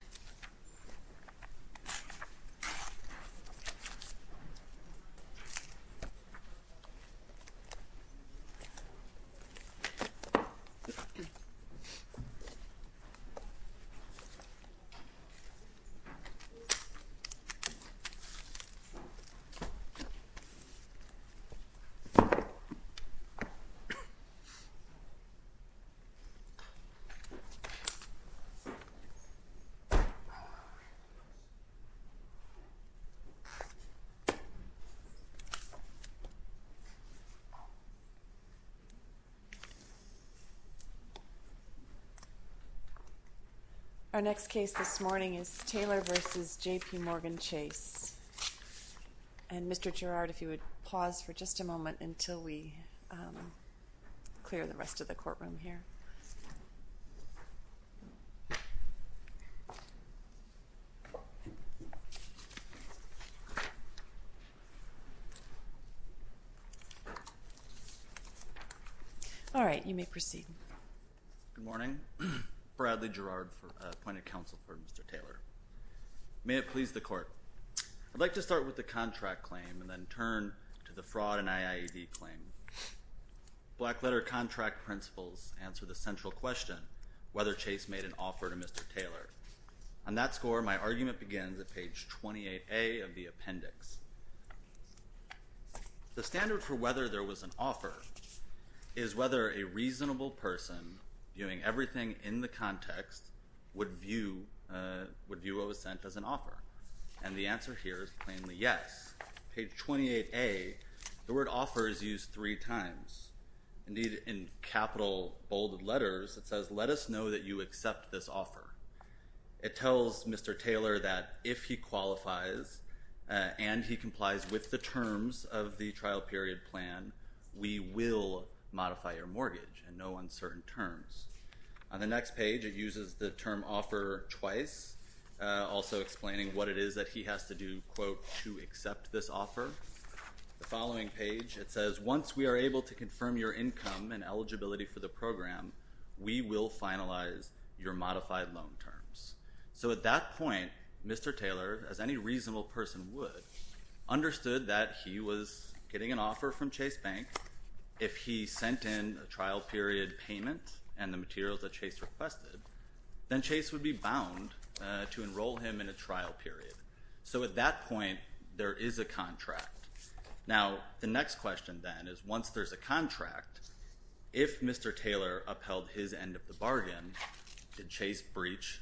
and J.P. Morgan Chase Bank, N.A. Our next case this morning is Taylor v. J.P. Morgan Chase, and Mr. Gerard, if you would please come forward. All right, you may proceed. Good morning. Bradley Gerard, appointed counsel for Mr. Taylor. May it please the Court, I'd like to start with the contract claim and then turn to the fraud and IAED claim. Black letter contract principles answer the central question whether Chase made an offer to Mr. Taylor. On that score, my argument begins at page 28A of the appendix. The standard for whether there was an offer is whether a reasonable person, viewing everything in the context, would view what was sent as an offer. And the answer here is plainly yes. Page 28A, the word offer is used three times. Indeed, in capital bolded letters, it says, let us know that you accept this offer. It tells Mr. Taylor that if he qualifies and he complies with the terms of the trial period plan, we will modify your mortgage in no uncertain terms. On the next page, it uses the term offer twice, also explaining what it is that he has to do, quote, to accept this offer. The following page, it says, once we are able to confirm your income and eligibility for the program, we will finalize your modified loan terms. So at that point, Mr. Taylor, as any reasonable person would, understood that he was getting an offer from Chase Bank. If he sent in a trial period payment and the materials that Chase requested, then Chase would be bound to enroll him in a trial period. So at that point, there is a contract. Now, the next question then is, once there's a contract, if Mr. Taylor upheld his end of the bargain, did Chase breach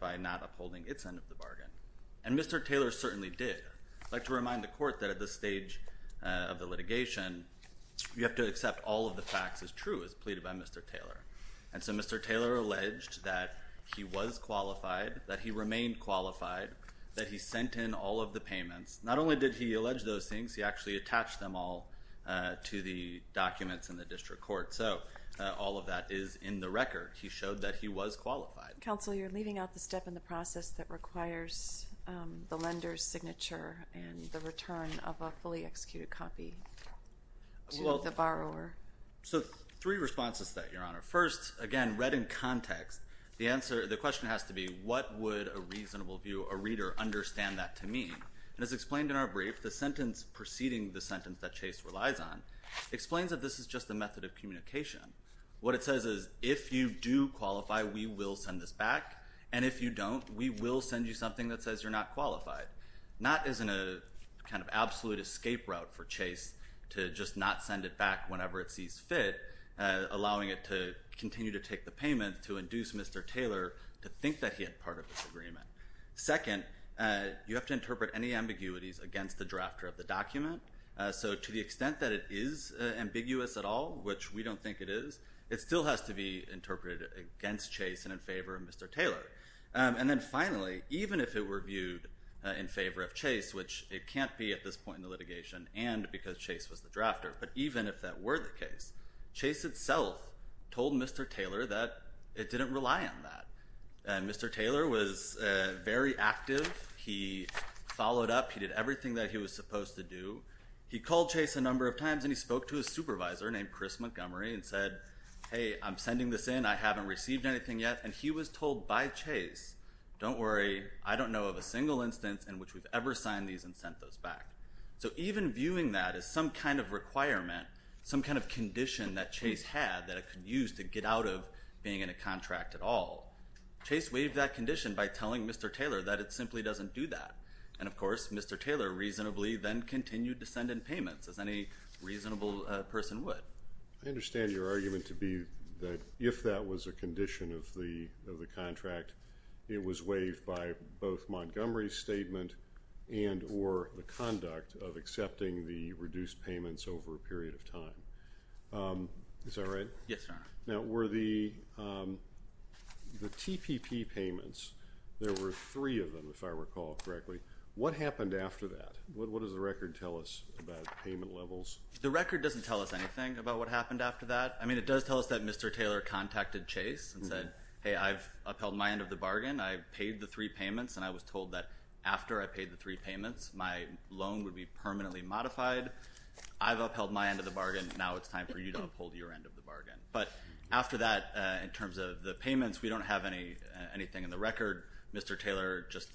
by not upholding its end of the bargain? And Mr. Taylor certainly did. I'd like to remind the court that at this stage of the litigation, you have to accept all of the facts as true as pleaded by Mr. Taylor. And so Mr. Taylor alleged that he was qualified, that he remained qualified, that he sent in all of the payments. Not only did he allege those things, he actually attached them all to the documents in the district court. So all of that is in the record. He showed that he was qualified. Counsel, you're leaving out the step in the process that requires the lender's signature and the return of a fully executed copy to the borrower. So three responses to that, Your Honor. First, again, read in context, the question has to be, what would a reasonable view, a reader, understand that to mean? And as explained in our brief, the sentence preceding the sentence that Chase relies on explains that this is just a method of communication. What it says is, if you do qualify, we will send this back. And if you don't, we will send you something that says you're not qualified. Not as in a kind of absolute escape route for Chase to just not send it back whenever it sees fit, allowing it to continue to take the payment to induce Mr. Taylor to think that he had part of this agreement. Second, you have to interpret any ambiguities against the drafter of the document. So to the extent that it is ambiguous at all, which we don't think it is, it still has to be interpreted against Chase and in favor of Mr. Taylor. And then finally, even if it were viewed in favor of Chase, which it can't be at this point in the litigation, and because Chase was the drafter, but even if that were the case, Chase itself told Mr. Taylor that it didn't rely on that. And Mr. Taylor was very active. He followed up. He did everything that he was supposed to do. He called Chase a number of times, and he spoke to his supervisor named Chris Montgomery and said, hey, I'm just told by Chase, don't worry, I don't know of a single instance in which we've ever signed these and sent those back. So even viewing that as some kind of requirement, some kind of condition that Chase had that it could use to get out of being in a contract at all, Chase waived that condition by telling Mr. Taylor that it simply doesn't do that. And of course, Mr. Taylor reasonably then continued to send in payments, as any reasonable person would. I understand your argument to be that if that was a condition of the contract, it was waived by both Montgomery's statement and or the conduct of accepting the reduced payments over a period of time. Is that right? Yes, Your Honor. Now, were the TPP payments, there were three of them, if I recall correctly, what happened after that? What does the record tell us about payment levels? The record doesn't tell us anything about what happened after that. I mean, it does tell us that Mr. Taylor contacted Chase and said, hey, I've upheld my end of the bargain, I've paid the three payments, and I was told that after I paid the three payments, my loan would be permanently modified. I've upheld my end of the bargain, now it's time for you to uphold your end of the bargain. But after that, in terms of the payments, we don't have anything in the record. Mr. Taylor just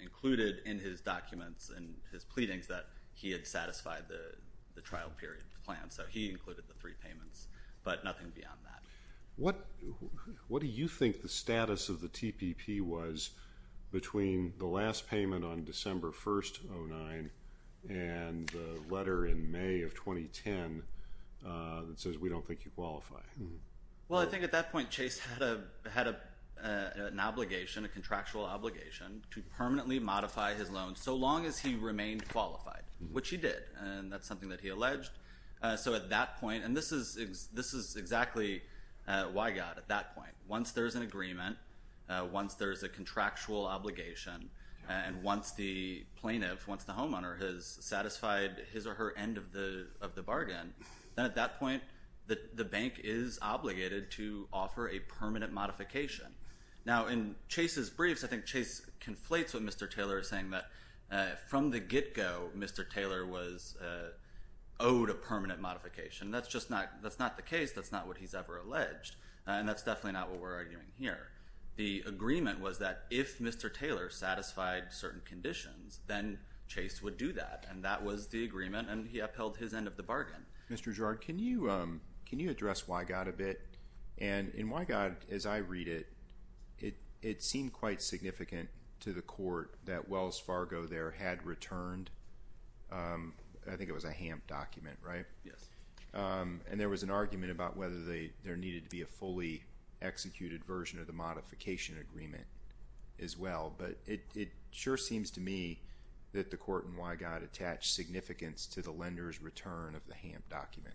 included in his documents and his pleadings that he had satisfied the trial period plan. So he included the three payments, but nothing beyond that. What do you think the status of the TPP was between the last payment on December 1st, 2009, and the letter in May of 2010 that says we don't think you qualify? Well, I think at that point, Chase had an obligation, a contractual obligation, to permanently modify his loan so long as he remained qualified, which he did, and that's something that he did at that point, and this is exactly why he got it at that point. Once there's an agreement, once there's a contractual obligation, and once the plaintiff, once the homeowner has satisfied his or her end of the bargain, then at that point, the bank is obligated to offer a permanent modification. Now, in Chase's briefs, I think Chase conflates what Mr. Taylor is saying, that from the get-go, Mr. Taylor was owed a permanent modification. That's just not the case. That's not what he's ever alleged, and that's definitely not what we're arguing here. The agreement was that if Mr. Taylor satisfied certain conditions, then Chase would do that, and that was the agreement, and he upheld his end of the bargain. Mr. Gerard, can you address Wygod a bit? And in Wygod, as I read it, it seemed quite significant to the court that Wells Fargo there had returned, I think it was a HAMP document, right? Yes. And there was an argument about whether there needed to be a fully executed version of the modification agreement as well, but it sure seems to me that the court in Wygod attached significance to the lender's return of the HAMP document.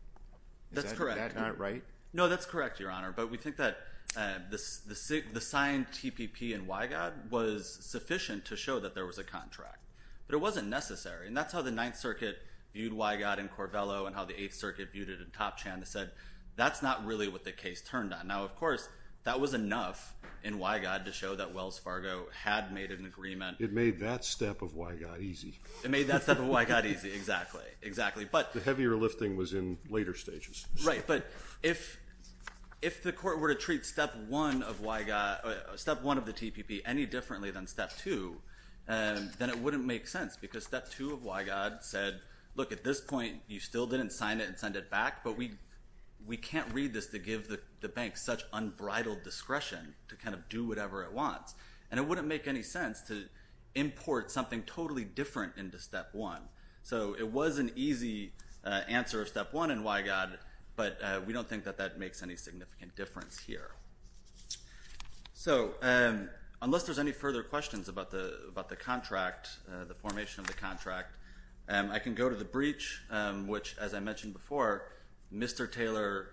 Is that not right? No, that's correct, Your Honor, but we think that the signed TPP in Wygod was sufficient to show that there was a contract, but it wasn't necessary, and that's how the Ninth Circuit viewed Wygod in Corvello and how the Eighth Circuit viewed it in Topchan. They said, that's not really what the case turned on. Now, of course, that was enough in Wygod to show that Wells Fargo had made an agreement. It made that step of Wygod easy. It made that step of Wygod easy, exactly. The heavier lifting was in later stages. Right, but if the court were to treat step one of the TPP any differently than step two, then it wouldn't make sense because step two of Wygod said, look, at this point, you still didn't sign it and send it back, but we can't read this to give the bank such unbridled discretion to kind of do whatever it wants, and it wouldn't make any sense to import something totally different into step one. So it was an easy answer of step one in Wygod, but we don't think that that makes any significant difference here. So unless there's any further questions about the contract, the formation of the contract, I can go to the breach, which, as I mentioned before, Mr. Taylor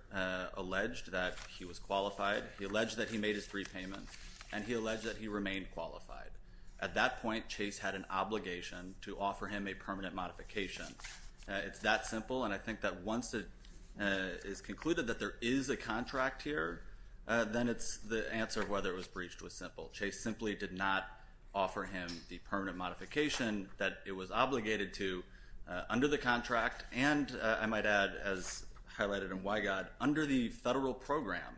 alleged that he was qualified. He alleged that he made his three payments, and he alleged that he remained qualified. At that point, Chase had an obligation to offer him a permanent modification. It's that simple, and I think that once it is concluded that there is a contract here, then the answer of whether it was breached was simple. Chase simply did not offer him the permanent modification that it was obligated to under the contract and, I might add, as highlighted in Wygod, under the federal program.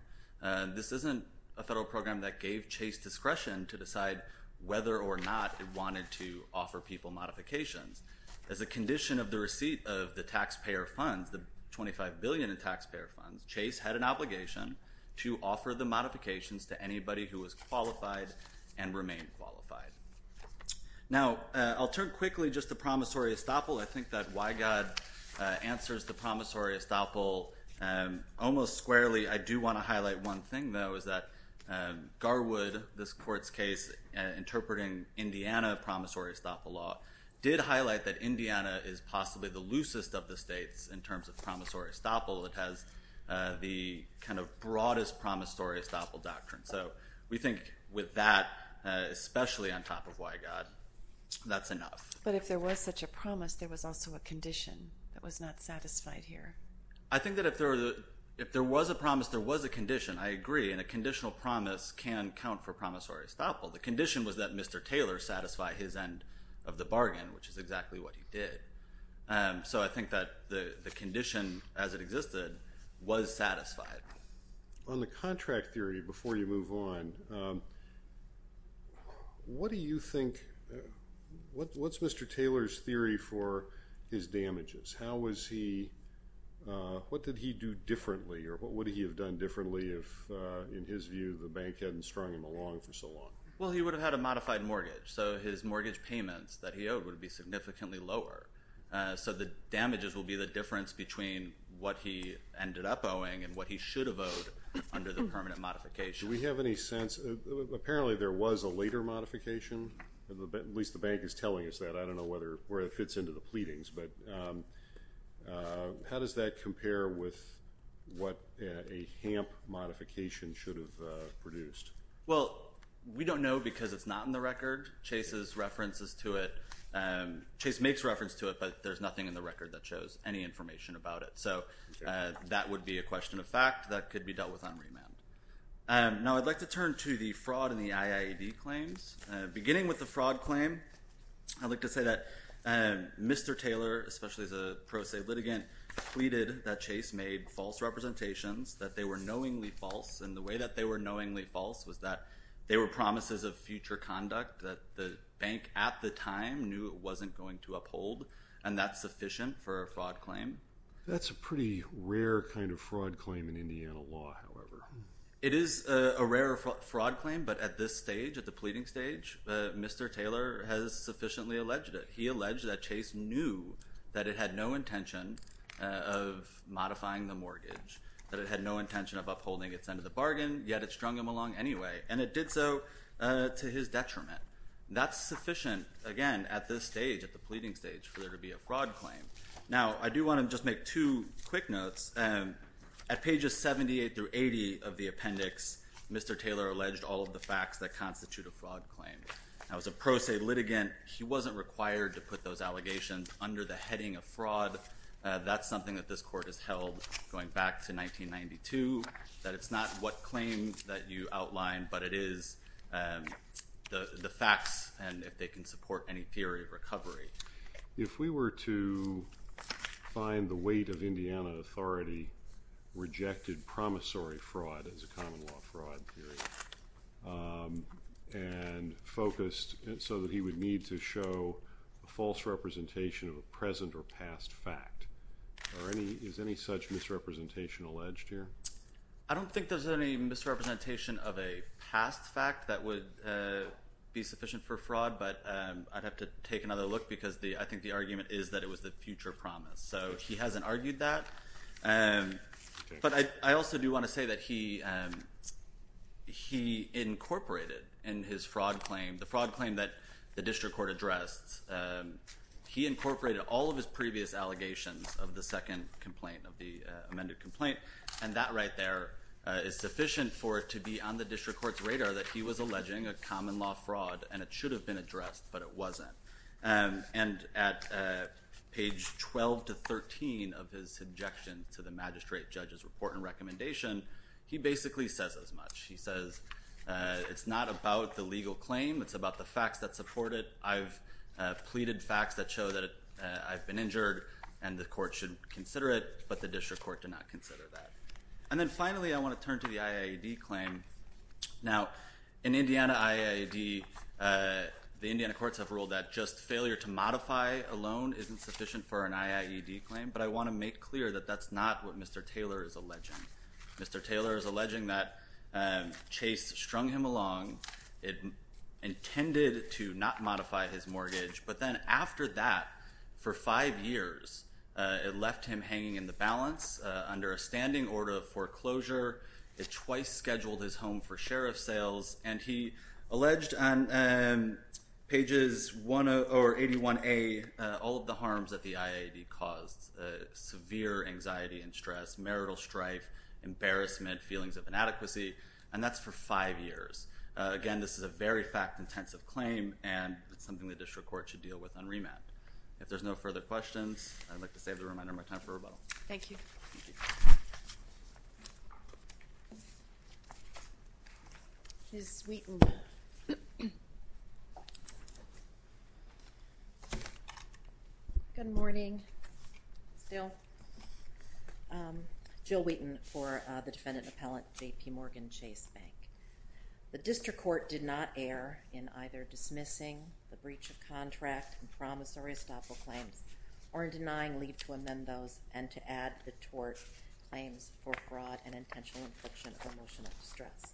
This isn't a federal program that gave Chase discretion to decide whether or not it wanted to offer people modifications. As a condition of the receipt of the taxpayer funds, the $25 billion in taxpayer funds, Chase had an obligation to offer the modifications to anybody who was qualified and remained qualified. Now, I'll turn quickly just to promissory estoppel. I think that Wygod answers the promissory estoppel almost squarely. I do want to highlight one thing, though, is that Garwood, this court's case interpreting Indiana promissory estoppel law, did highlight that Indiana is possibly the loosest of the states in terms of promissory estoppel. It has the kind of broadest promissory estoppel doctrine. So we think with that, especially on top of Wygod, that's enough. But if there was such a promise, there was also a condition that was not satisfied here. I think that if there was a promise, there was a condition. I agree. And a conditional promise can count for promissory estoppel. The condition was that Mr. Taylor satisfy his end of the bargain, which is exactly what he did. So I think that the condition as it existed was satisfied. On the contract theory, before you move on, what's Mr. Taylor's theory for his damages? How was he, what did he do differently, or what would he have done differently if, in his view, the bank hadn't strung him along for so long? Well, he would have had a modified mortgage. So his mortgage payments that he owed would be significantly lower. So the damages will be the difference between what he ended up owing and what he should have owed under the permanent modification. Do we have any sense, apparently there was a later modification, at least the bank is telling us that. I don't know where it fits into the pleadings, but how does that compare with what a HAMP modification should have produced? Well, we don't know because it's not in the record. Chase's reference is to it, Chase makes reference to it, but there's nothing in the record that shows any information about it. So that would be a question of fact that could be dealt with on remand. Now I'd like to turn to the fraud and the IIED claims. Beginning with the fraud claim, I'd like to say that Mr. Taylor, especially as a pro se litigant, pleaded that Chase made false representations, that they were knowingly false, and the way that they were knowingly false was that they were promises of future conduct that the bank at the time knew it wasn't going to uphold, and that's sufficient for a fraud claim. That's a pretty rare kind of fraud claim in Indiana law, however. It is a rare fraud claim, but at this stage, at the pleading stage, Mr. Taylor has sufficiently alleged it. He alleged that Chase knew that it had no intention of modifying the mortgage, that it had no intention of upholding its end of the bargain, yet it strung him along anyway, and it did so to his detriment. That's sufficient, again, at this stage, at the pleading stage, for there to be a fraud claim. Now, I do want to just make two quick notes. At pages 78 through 80 of the appendix, Mr. Taylor alleged all of the facts that constitute a fraud claim. Now, as a pro se litigant, he wasn't required to put those allegations under the heading of fraud. That's something that this court has held going back to 1992, that it's not what claims that you outlined, but it is the facts and if they can support any theory of recovery. If we were to find the weight of Indiana authority, rejected promissory fraud as a common law fraud theory, and focused so that he would need to show a false representation of a present or past fact, is any such misrepresentation alleged here? I don't think there's any misrepresentation of a past fact that would be sufficient for this case, because I think the argument is that it was the future promise. So he hasn't argued that, but I also do want to say that he incorporated in his fraud claim, the fraud claim that the district court addressed, he incorporated all of his previous allegations of the second complaint, of the amended complaint, and that right there is sufficient for it to be on the district court's radar that he was alleging a common law fraud, and it should have been addressed, but it wasn't. And at page 12 to 13 of his subjection to the magistrate judge's report and recommendation, he basically says as much, he says, it's not about the legal claim, it's about the facts that support it, I've pleaded facts that show that I've been injured, and the court should consider it, but the district court did not consider that. And then finally, I want to turn to the IAED claim. Now, in Indiana IAED, the Indiana courts have ruled that just failure to modify a loan isn't sufficient for an IAED claim, but I want to make clear that that's not what Mr. Taylor is alleging. Mr. Taylor is alleging that Chase strung him along, intended to not modify his mortgage, but then after that, for five years, it left him hanging in the balance under a standing order of foreclosure, it twice scheduled his home for sheriff sales, and he alleged on pages 81A all of the harms that the IAED caused, severe anxiety and stress, marital strife, embarrassment, feelings of inadequacy, and that's for five years. Again, this is a very fact-intensive claim, and it's something the district court should deal with on remand. If there's no further questions, I'd like to save the reminder of my time for rebuttal. Thank you. Thank you. Ms. Wheaton. Good morning. Still? Jill Wheaton for the defendant appellate, JPMorgan Chase Bank. The district court did not err in either dismissing the breach of contract and promissory estoppel claims, or in denying leave to amend those and to add the tort claims for fraud and intentional infliction of emotional distress.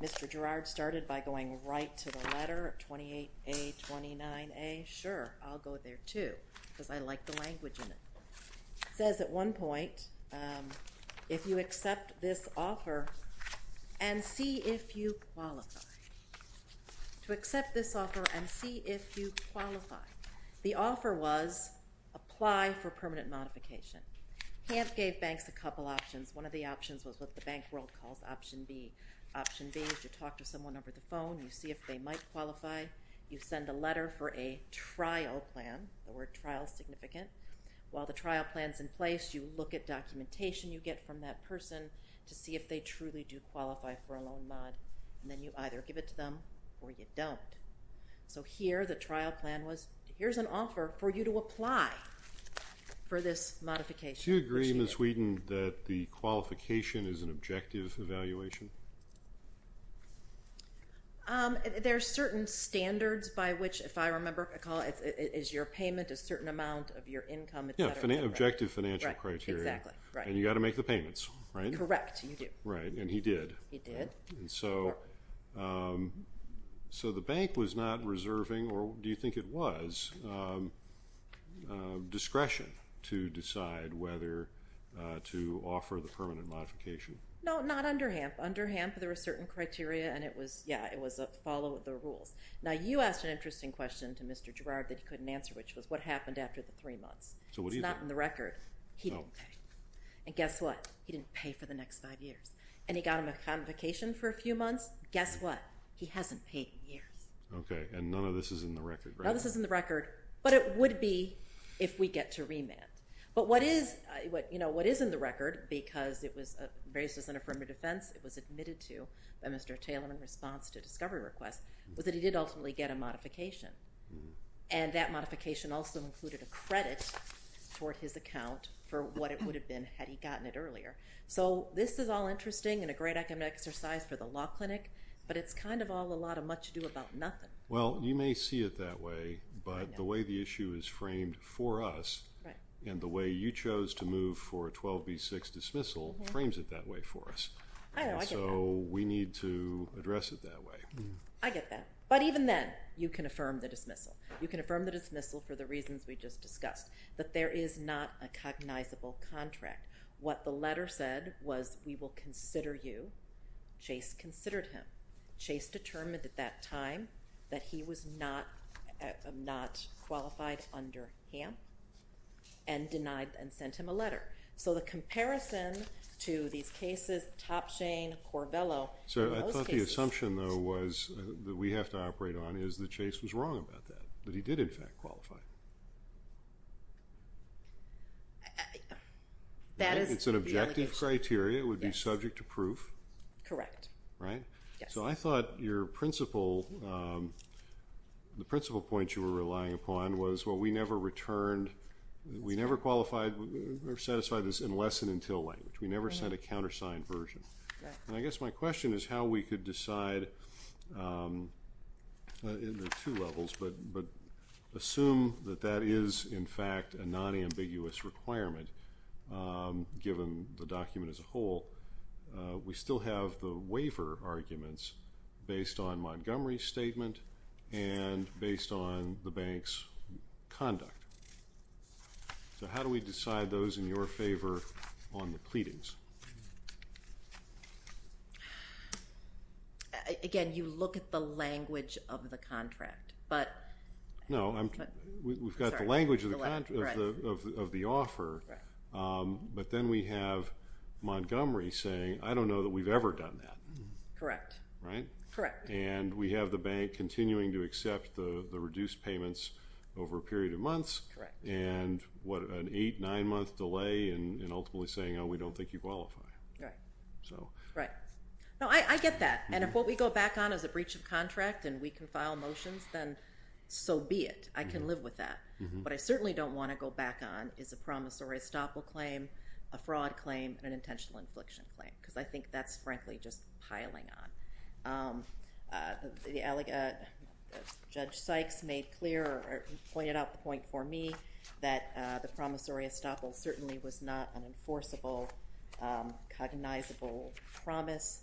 Mr. Girard started by going right to the letter of 28A, 29A. Sure, I'll go there, too, because I like the language in it. It says at one point, if you accept this offer and see if you qualify. To accept this offer and see if you qualify. The offer was apply for permanent modification. HANF gave banks a couple options. One of the options was what the bank world calls Option B. Option B is you talk to someone over the phone. You see if they might qualify. You send a letter for a trial plan, the word trial is significant. While the trial plan is in place, you look at documentation you get from that person to see if they truly do qualify for a loan mod. Then you either give it to them or you don't. Here, the trial plan was, here's an offer for you to apply for this modification. Do you agree, Ms. Wheaton, that the qualification is an objective evaluation? There are certain standards by which, if I remember, is your payment a certain amount of your income? Objective financial criteria. Exactly. And you've got to make the payments, right? Correct. You do. Right. And he did. He did. So the bank was not reserving, or do you think it was, discretion to decide whether to offer the permanent modification? No, not under HANF. Under HANF, there were certain criteria and it was, yeah, it was a follow of the rules. Now, you asked an interesting question to Mr. Girard that he couldn't answer, which was what happened after the three months. So what do you think? It's not in the record. He didn't pay. And guess what? He didn't pay for the next five years. And he got him a convocation for a few months. Guess what? He hasn't paid in years. Okay. And none of this is in the record, right? None of this is in the record, but it would be if we get to remand. But what is in the record, because it was raised as an affirmative defense, it was admitted to by Mr. Taylor in response to a discovery request, was that he did ultimately get a modification. And that modification also included a credit toward his account for what it would have been had he gotten it earlier. So this is all interesting and a great academic exercise for the law clinic, but it's kind of all a lot of much ado about nothing. Well, you may see it that way, but the way the issue is framed for us and the way you chose to move for a 12B6 dismissal frames it that way for us. I get that. So we need to address it that way. I get that. But even then, you can affirm the dismissal. You can affirm the dismissal for the reasons we just discussed. But there is not a cognizable contract. What the letter said was, we will consider you. Chase considered him. Chase determined at that time that he was not qualified under HAMP and denied and sent him a letter. So the comparison to these cases, Topsham, Corvello. So I thought the assumption, though, was that we have to operate on is that Chase was wrong about that, that he did, in fact, qualify. That is the allegation. It's an objective criteria. It would be subject to proof. Correct. Right? Yes. So I thought your principle, the principle point you were relying upon was, well, we never returned, we never qualified or satisfied this in less than until language. We never sent a countersigned version. I guess my question is how we could decide in the two levels, but assume that that is, in fact, a non-ambiguous requirement given the document as a whole. We still have the waiver arguments based on Montgomery's statement and based on the bank's conduct. So how do we decide those in your favor on the pleadings? Again, you look at the language of the contract. No, we've got the language of the offer, but then we have Montgomery saying, I don't know that we've ever done that. Correct. Right? Correct. And we have the bank continuing to accept the reduced payments over a period of months and an eight, nine-month delay in ultimately saying, oh, we don't think you qualify. Correct. Right. No, I get that. And if what we go back on is a breach of contract and we can file motions, then so be it. I can live with that. What I certainly don't want to go back on is a promissory estoppel claim, a fraud claim, and an intentional infliction claim because I think that's frankly just piling on. Judge Sykes made clear or pointed out the point for me that the promissory estoppel certainly was not an enforceable, cognizable promise.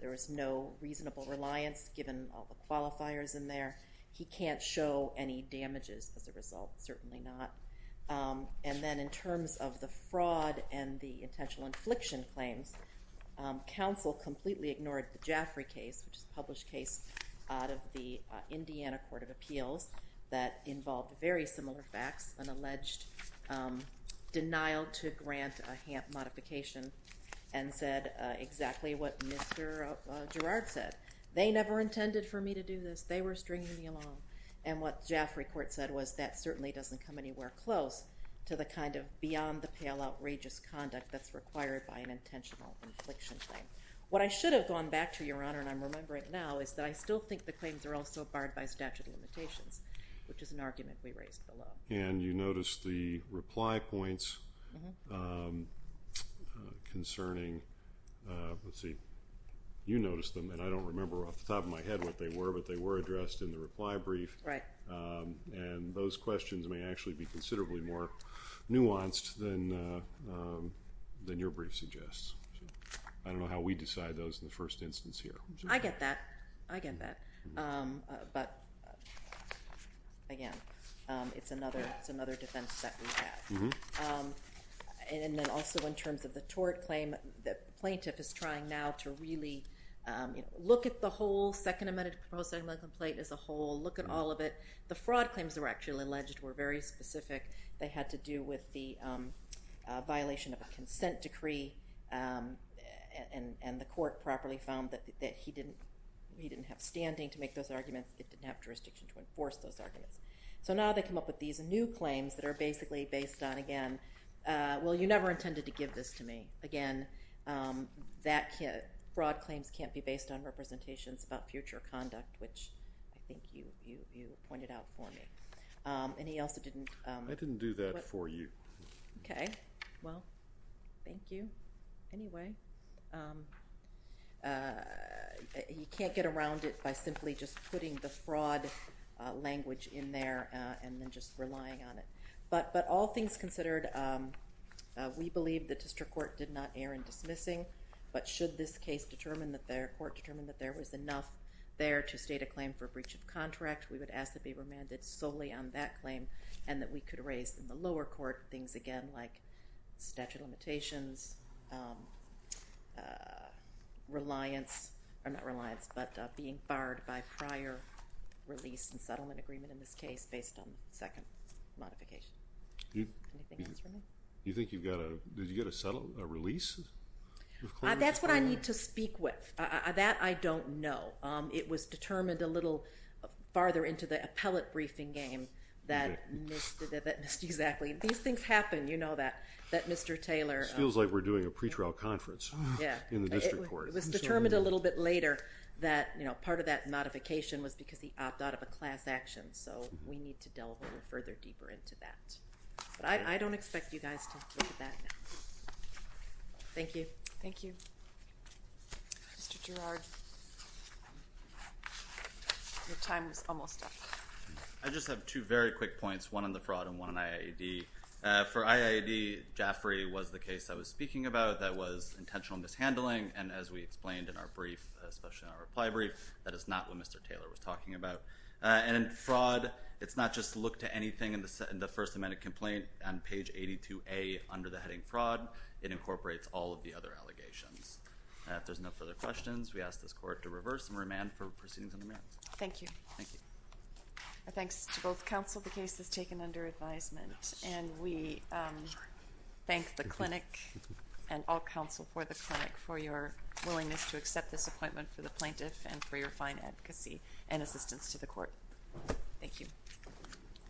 There was no reasonable reliance given all the qualifiers in there. He can't show any damages as a result, certainly not. And then in terms of the fraud and the intentional infliction claims, counsel completely ignored the Jaffray case, which is a published case out of the Indiana Court of Appeals that involved very similar facts, an alleged denial to grant a HAMP modification and said exactly what Mr. Girard said. They never intended for me to do this. They were stringing me along. And what Jaffray Court said was that certainly doesn't come anywhere close to the kind of beyond the pale outrageous conduct that's required by an intentional infliction claim. What I should have gone back to, Your Honor, and I'm remembering now, is that I still think the claims are also barred by statute of limitations, which is an argument we raised below. And you noticed the reply points concerning, let's see, you noticed them and I don't remember off the top of my head what they were, but they were addressed in the reply brief. Right. And those questions may actually be considerably more nuanced than your brief suggests. I don't know how we decide those in the first instance here. I get that. I get that. But, again, it's another defense that we have. And then also in terms of the tort claim, the plaintiff is trying now to really look at the whole Second Amendment complaint as a whole, look at all of it. The fraud claims that were actually alleged were very specific. They had to do with the violation of a consent decree. And the court properly found that he didn't have standing to make those arguments. It didn't have jurisdiction to enforce those arguments. So now they come up with these new claims that are basically based on, again, well, you never intended to give this to me. Again, fraud claims can't be based on representations about future conduct, which I think you pointed out for me. And he also didn't- I didn't do that for you. Okay. Well, thank you. Anyway, you can't get around it by simply just putting the fraud language in there and then just relying on it. But all things considered, we believe the district court did not err in dismissing. But should this case determine that their court determined that there was enough there to state a claim for breach of contract, we would ask that they remanded solely on that claim and that we could raise in the lower court things, again, like statute of limitations, reliance, or not reliance, but being barred by prior release and settlement agreement in this case based on second modification. Anything else for me? You think you've got a, did you get a release? That's what I need to speak with. That I don't know. It was determined a little farther into the appellate briefing game that missed, exactly. These things happen. You know that, that Mr. Taylor- It feels like we're doing a pretrial conference in the district court. It was determined a little bit later that, you know, part of that modification was because he opted out of a class action. So we need to delve a little further deeper into that. But I don't expect you guys to look at that now. Thank you. Thank you. Mr. Girard, your time is almost up. I just have two very quick points, one on the fraud and one on IAED. For IAED, Jaffrey was the case I was speaking about that was intentional mishandling, and as we explained in our brief, especially our reply brief, that is not what Mr. Taylor was talking about. And fraud, it's not just look to anything in the first amendment complaint on page 82A under the heading fraud. It incorporates all of the other allegations. If there's no further questions, we ask this court to reverse and remand for proceedings on the merits. Thank you. Thank you. Thanks to both counsel. The case is taken under advisement, and we thank the clinic and all counsel for the clinic for your willingness to accept this appointment for the plaintiff and for your fine advocacy and assistance to the court. Thank you.